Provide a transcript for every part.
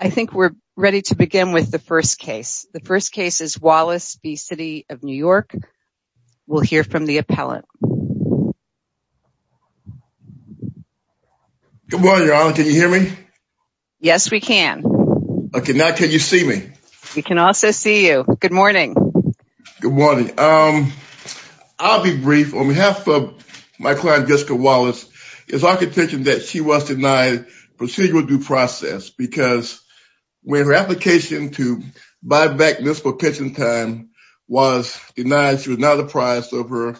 I think we're ready to begin with the first case. The first case is Wallace v. City of New York. We'll hear from the appellant. Good morning, Your Honor. Can you hear me? Yes, we can. Okay, now can you see me? We can also see you. Good morning. Good morning. I'll be brief. On behalf of my client Jessica Wallace, when her application to buy back municipal pension time was denied, she was not apprised of her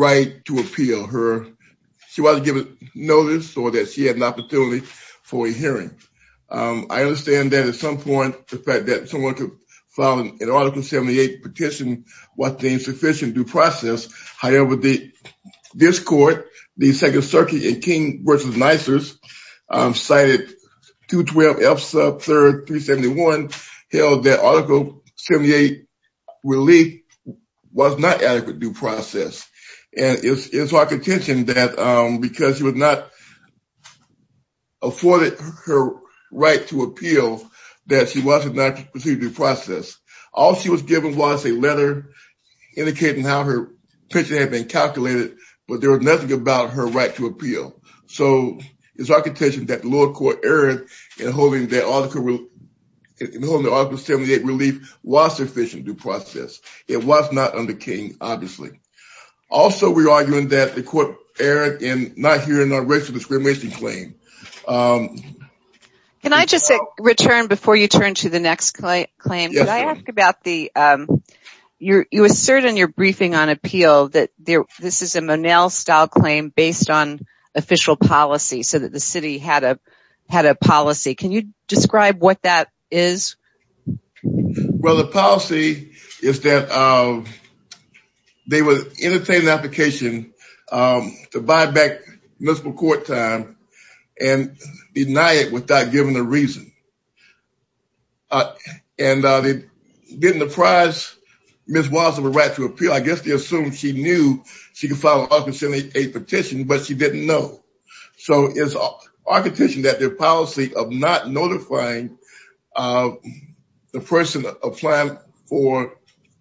right to appeal. She wasn't given notice or that she had an opportunity for a hearing. I understand that at some point the fact that someone could file an article 78 petition was the insufficient due process. However, this court, the Second Circuit in King v. Nicers, cited 212F sub 3rd 371 held that article 78 relief was not adequate due process. And it's our contention that because she was not afforded her right to appeal that she was not receiving due process. All she was given was a letter indicating how her application was calculated, but there was nothing about her right to appeal. So it's our contention that the lower court erred in holding the article 78 relief was sufficient due process. It was not under King, obviously. Also, we're arguing that the court erred in not hearing a racial discrimination claim. Can I just return, before you turn to the next claim, I ask about the you assert in your briefing on appeal that this is a Monel style claim based on official policy, so that the city had a policy. Can you describe what that is? Well, the policy is that they would entertain an application to buy back municipal court time and deny it without giving a reason. And given the prize, Ms. Watson was right to appeal. I guess they assumed she knew she could file an article 78 petition, but she didn't know. So it's our contention that their policy of not notifying the person applying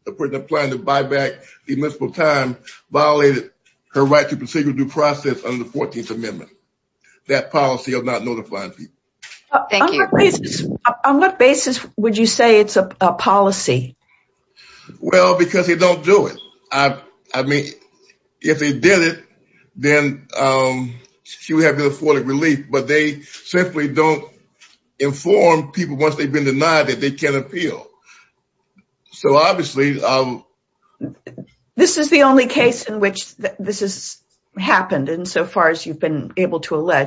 to buy back the municipal time violated her right to proceed with due process under the 14th Amendment, that policy of not notifying people. Thank you. On what basis would you say it's a policy? Well, because they don't do it. I mean, if they did it, then she would have been afforded relief, but they simply don't inform people once they've been denied that they can appeal. So obviously, this is the only case in which this has happened insofar as you've been able to Why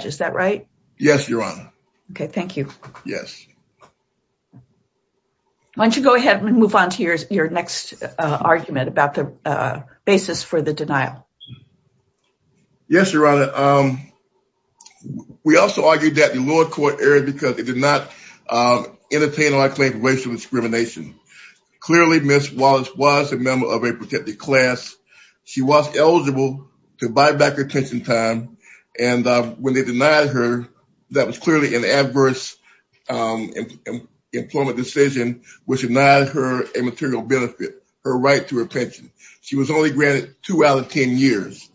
don't you go ahead and move on to your next argument about the basis for the denial? Yes, Your Honor. Um, we also argued that the lower court erred because it did not entertain our claim of racial discrimination. Clearly, Ms. Wallace was a member of a protected class. She was eligible to buy back her attention time. And when they denied her, that was clearly an adverse employment decision, which denied her a material benefit, her right to her pension. She was only granted two out of 10 years.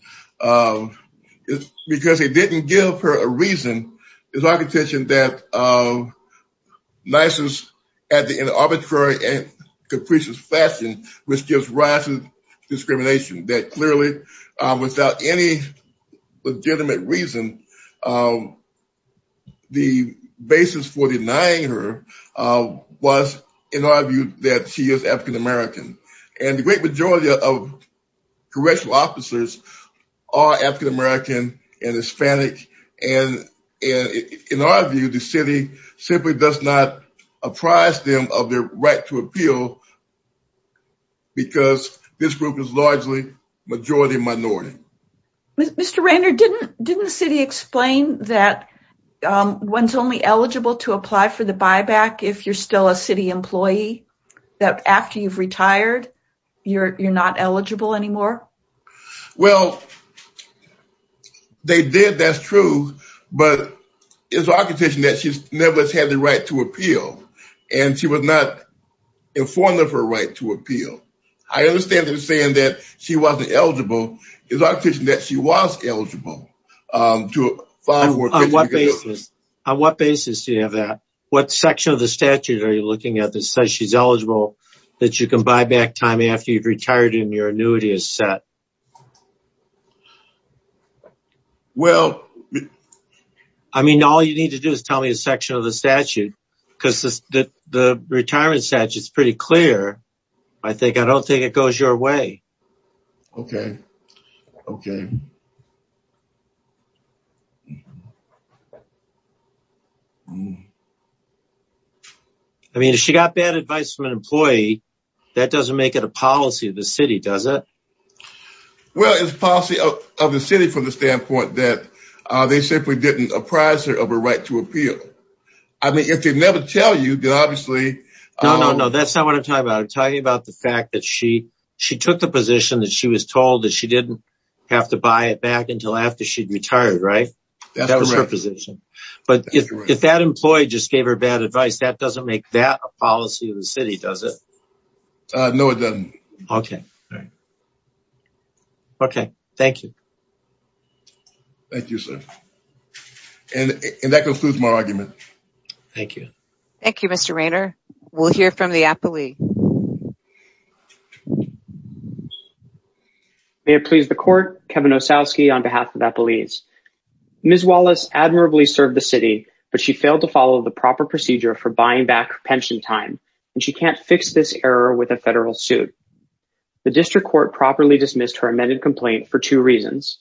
Because they didn't give her a reason, it's our contention that license in an arbitrary and capricious fashion, which gives rise to a legitimate reason, the basis for denying her was, in our view, that she is African American. And the great majority of correctional officers are African American and Hispanic. And in our view, the city simply does not apprise them of their right to appeal. Because this group is largely majority minority. Mr. Rainer, didn't the city explain that one's only eligible to apply for the buyback if you're still a city employee? That after you've retired, you're not eligible anymore? Well, they did, that's true. But it's our contention that she's never had the right to appeal. And she was not informed of her right to appeal. I think it's our contention that she was eligible to find work. On what basis do you have that? What section of the statute are you looking at that says she's eligible, that you can buy back time after you've retired and your annuity is set? Well, I mean, all you need to do is tell me a section of the statute, because the retirement statute is pretty clear. I think I don't think it goes your way. Okay. Okay. I mean, if she got bad advice from an employee, that doesn't make it a policy of the city, does it? Well, it's policy of the city from the standpoint that they simply didn't apprise her of her right to appeal. I mean, if they never tell you, then obviously... No, no, no, that's not what I'm talking about. I'm talking about the fact that she took the position that she was told that she didn't have to buy it back until after she'd retired, right? That was her position. But if that employee just gave her bad advice, that doesn't make that a policy of the city, does it? No, it doesn't. Okay. Okay. Thank you. Thank you, sir. And that concludes my argument. Thank you. Thank you, Mr. Raynor. We'll hear from the appellee. May it please the court, Kevin Ossowski on behalf of Appellees. Ms. Wallace admirably served the city, but she failed to follow the proper procedure for buying back her pension time, and she can't fix this error with a federal suit. The district court properly dismissed her amended complaint for two reasons.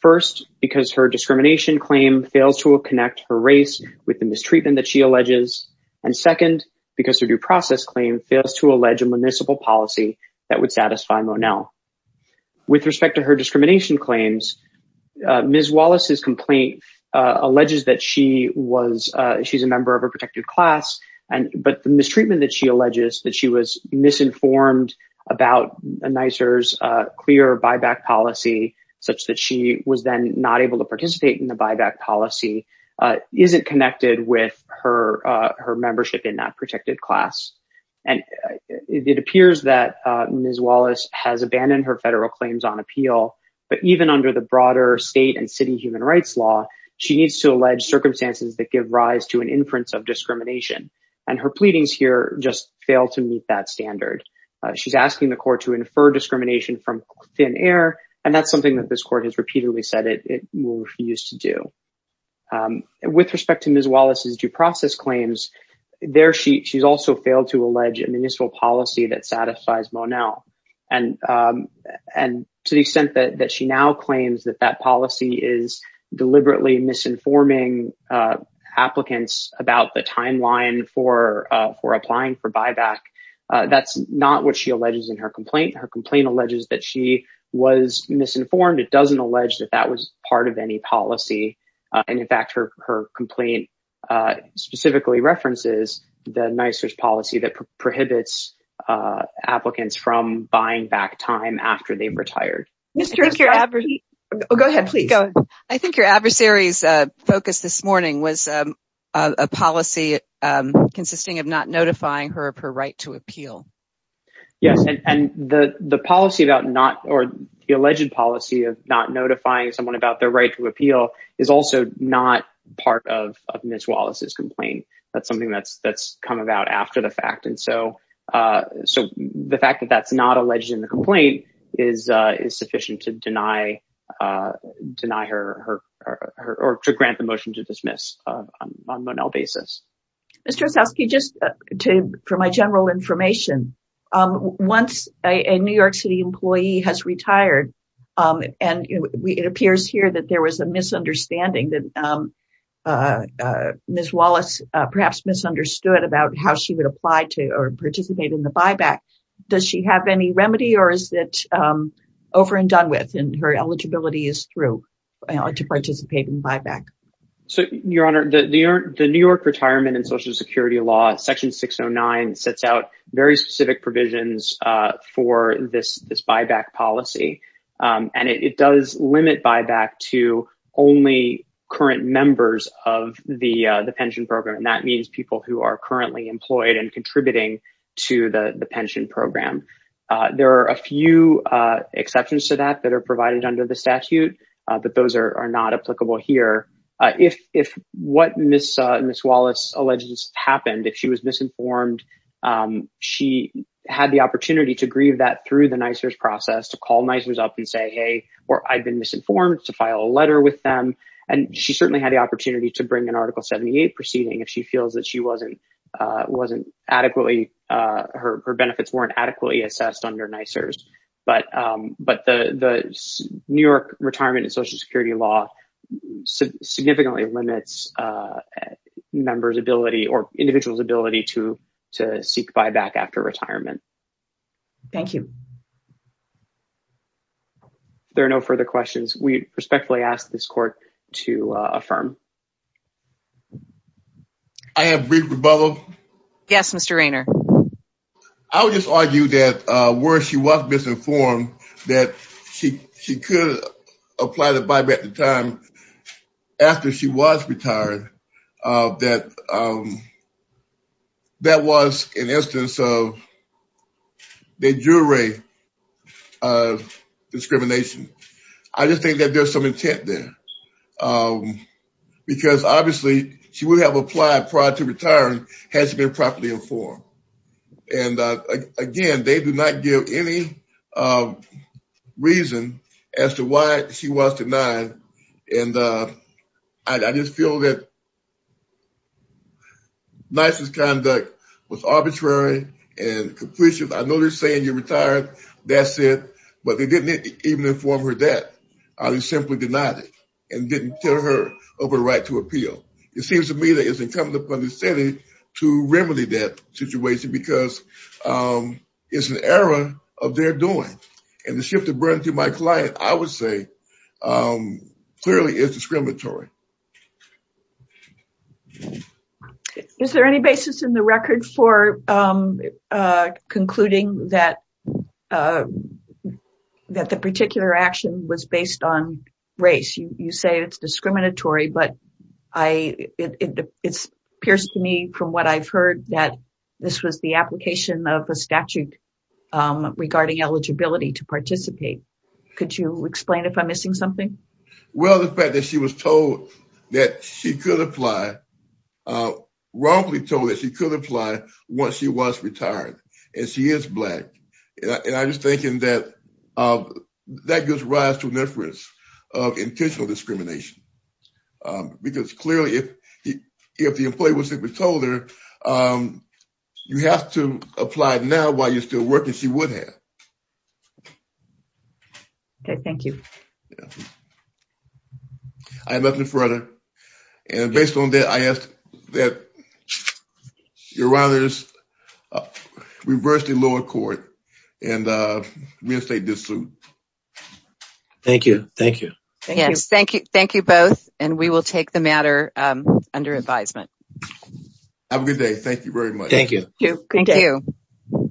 First, because her discrimination claim fails to connect her race with the mistreatment that she alleges. And second, because her due process claim fails to allege a municipal policy that would satisfy Monell. With respect to her discrimination claims, Ms. Wallace's complaint alleges that she's a member of a protected class, but the mistreatment that she alleges, that she was misinformed about NYSER's clear buyback policy, such that she was then not able to participate in the buyback policy, isn't connected with her membership in that protected class. And it appears that Ms. Wallace has abandoned her federal claims on appeal, but even under the broader state and city human rights law, she needs to allege circumstances that give rise to an inference of discrimination. And her pleadings here just fail to meet that standard. She's asking the court to infer discrimination from thin air, and that's something that this court has repeatedly said it will refuse to do. With respect to Ms. Wallace's complaint, she fails to allege a municipal policy that satisfies Monell. And to the extent that she now claims that that policy is deliberately misinforming applicants about the timeline for applying for buyback, that's not what she alleges in her complaint. Her complaint alleges that she was misinformed. It doesn't allege that that was part of any policy. And in fact, her complaint specifically references the NYSERS policy that prohibits applicants from buying back time after they've retired. I think your adversary's focus this morning was a policy consisting of not notifying her of her right to appeal. Yes. And the alleged policy of not notifying someone about their right to appeal is also not part of Ms. Wallace's complaint. That's something that's come about after the fact. And so the fact that that's not alleged in the complaint is sufficient to deny her or to grant the motion to dismiss on Monell basis. Mr. Osowski, just for my general information, once a New York City employee has understanding that Ms. Wallace perhaps misunderstood about how she would apply to or participate in the buyback, does she have any remedy or is it over and done with? And her eligibility is through to participate in buyback. So, Your Honor, the New York retirement and Social Security law, section 609, sets out very specific provisions for this buyback policy, and it does limit buyback to only current members of the pension program. And that means people who are currently employed and contributing to the pension program. There are a few exceptions to that that are provided under the statute, but those are not applicable here. If what Ms. Wallace alleges happened, if she was misinformed, she had the opportunity to grieve that through the NYSERS process, to call NYSERS up and say, hey, or I've been misinformed, to file a letter with them. And she certainly had the opportunity to bring an Article 78 proceeding if she feels that she wasn't adequately, her benefits weren't adequately assessed under NYSERS. But the New York retirement and Social Security law significantly limits members' ability or individuals' ability to seek buyback after retirement. Thank you. There are no further questions. We respectfully ask this court to affirm. I have a brief rebuttal. Yes, Mr. Raynor. I would just argue that where she was misinformed, that she could apply the buyback at the time after she was retired, that that was an instance of the IRA discrimination. I just think that there's some intent there because obviously she would have applied prior to retiring had she been properly informed. And again, they do not give any reason as to why she was denied. And I just feel that NYSERS conduct was arbitrary and completionist. I know they're saying you're retired, that's it, but they didn't even inform her of that, or they simply denied it and didn't tell her of her right to appeal. It seems to me that it's incumbent upon the city to remedy that situation because it's an error of their doing. And the shift of burden to my client, I would say, clearly is discriminatory. Is there any basis in the record for concluding that the particular action was based on race? You say it's discriminatory, but it appears to me from what I've heard that this was the application of a statute regarding eligibility to participate. Could you explain if I'm missing something? Well, the fact that she was told that she could apply, wrongly told that she could apply once she was retired and she is Black, and I was thinking that that gives rise to an inference of intentional discrimination because clearly if the employee was simply told there, you have to apply now while you're still working, she would have. Okay. Thank you. I have nothing further. And based on that, I ask that your honors reverse the lower court and reinstate this suit. Thank you. Thank you. Yes. Thank you. Thank you both. And we will take the matter under advisement. Have a good day. Thank you very much. Thank you. Thank you.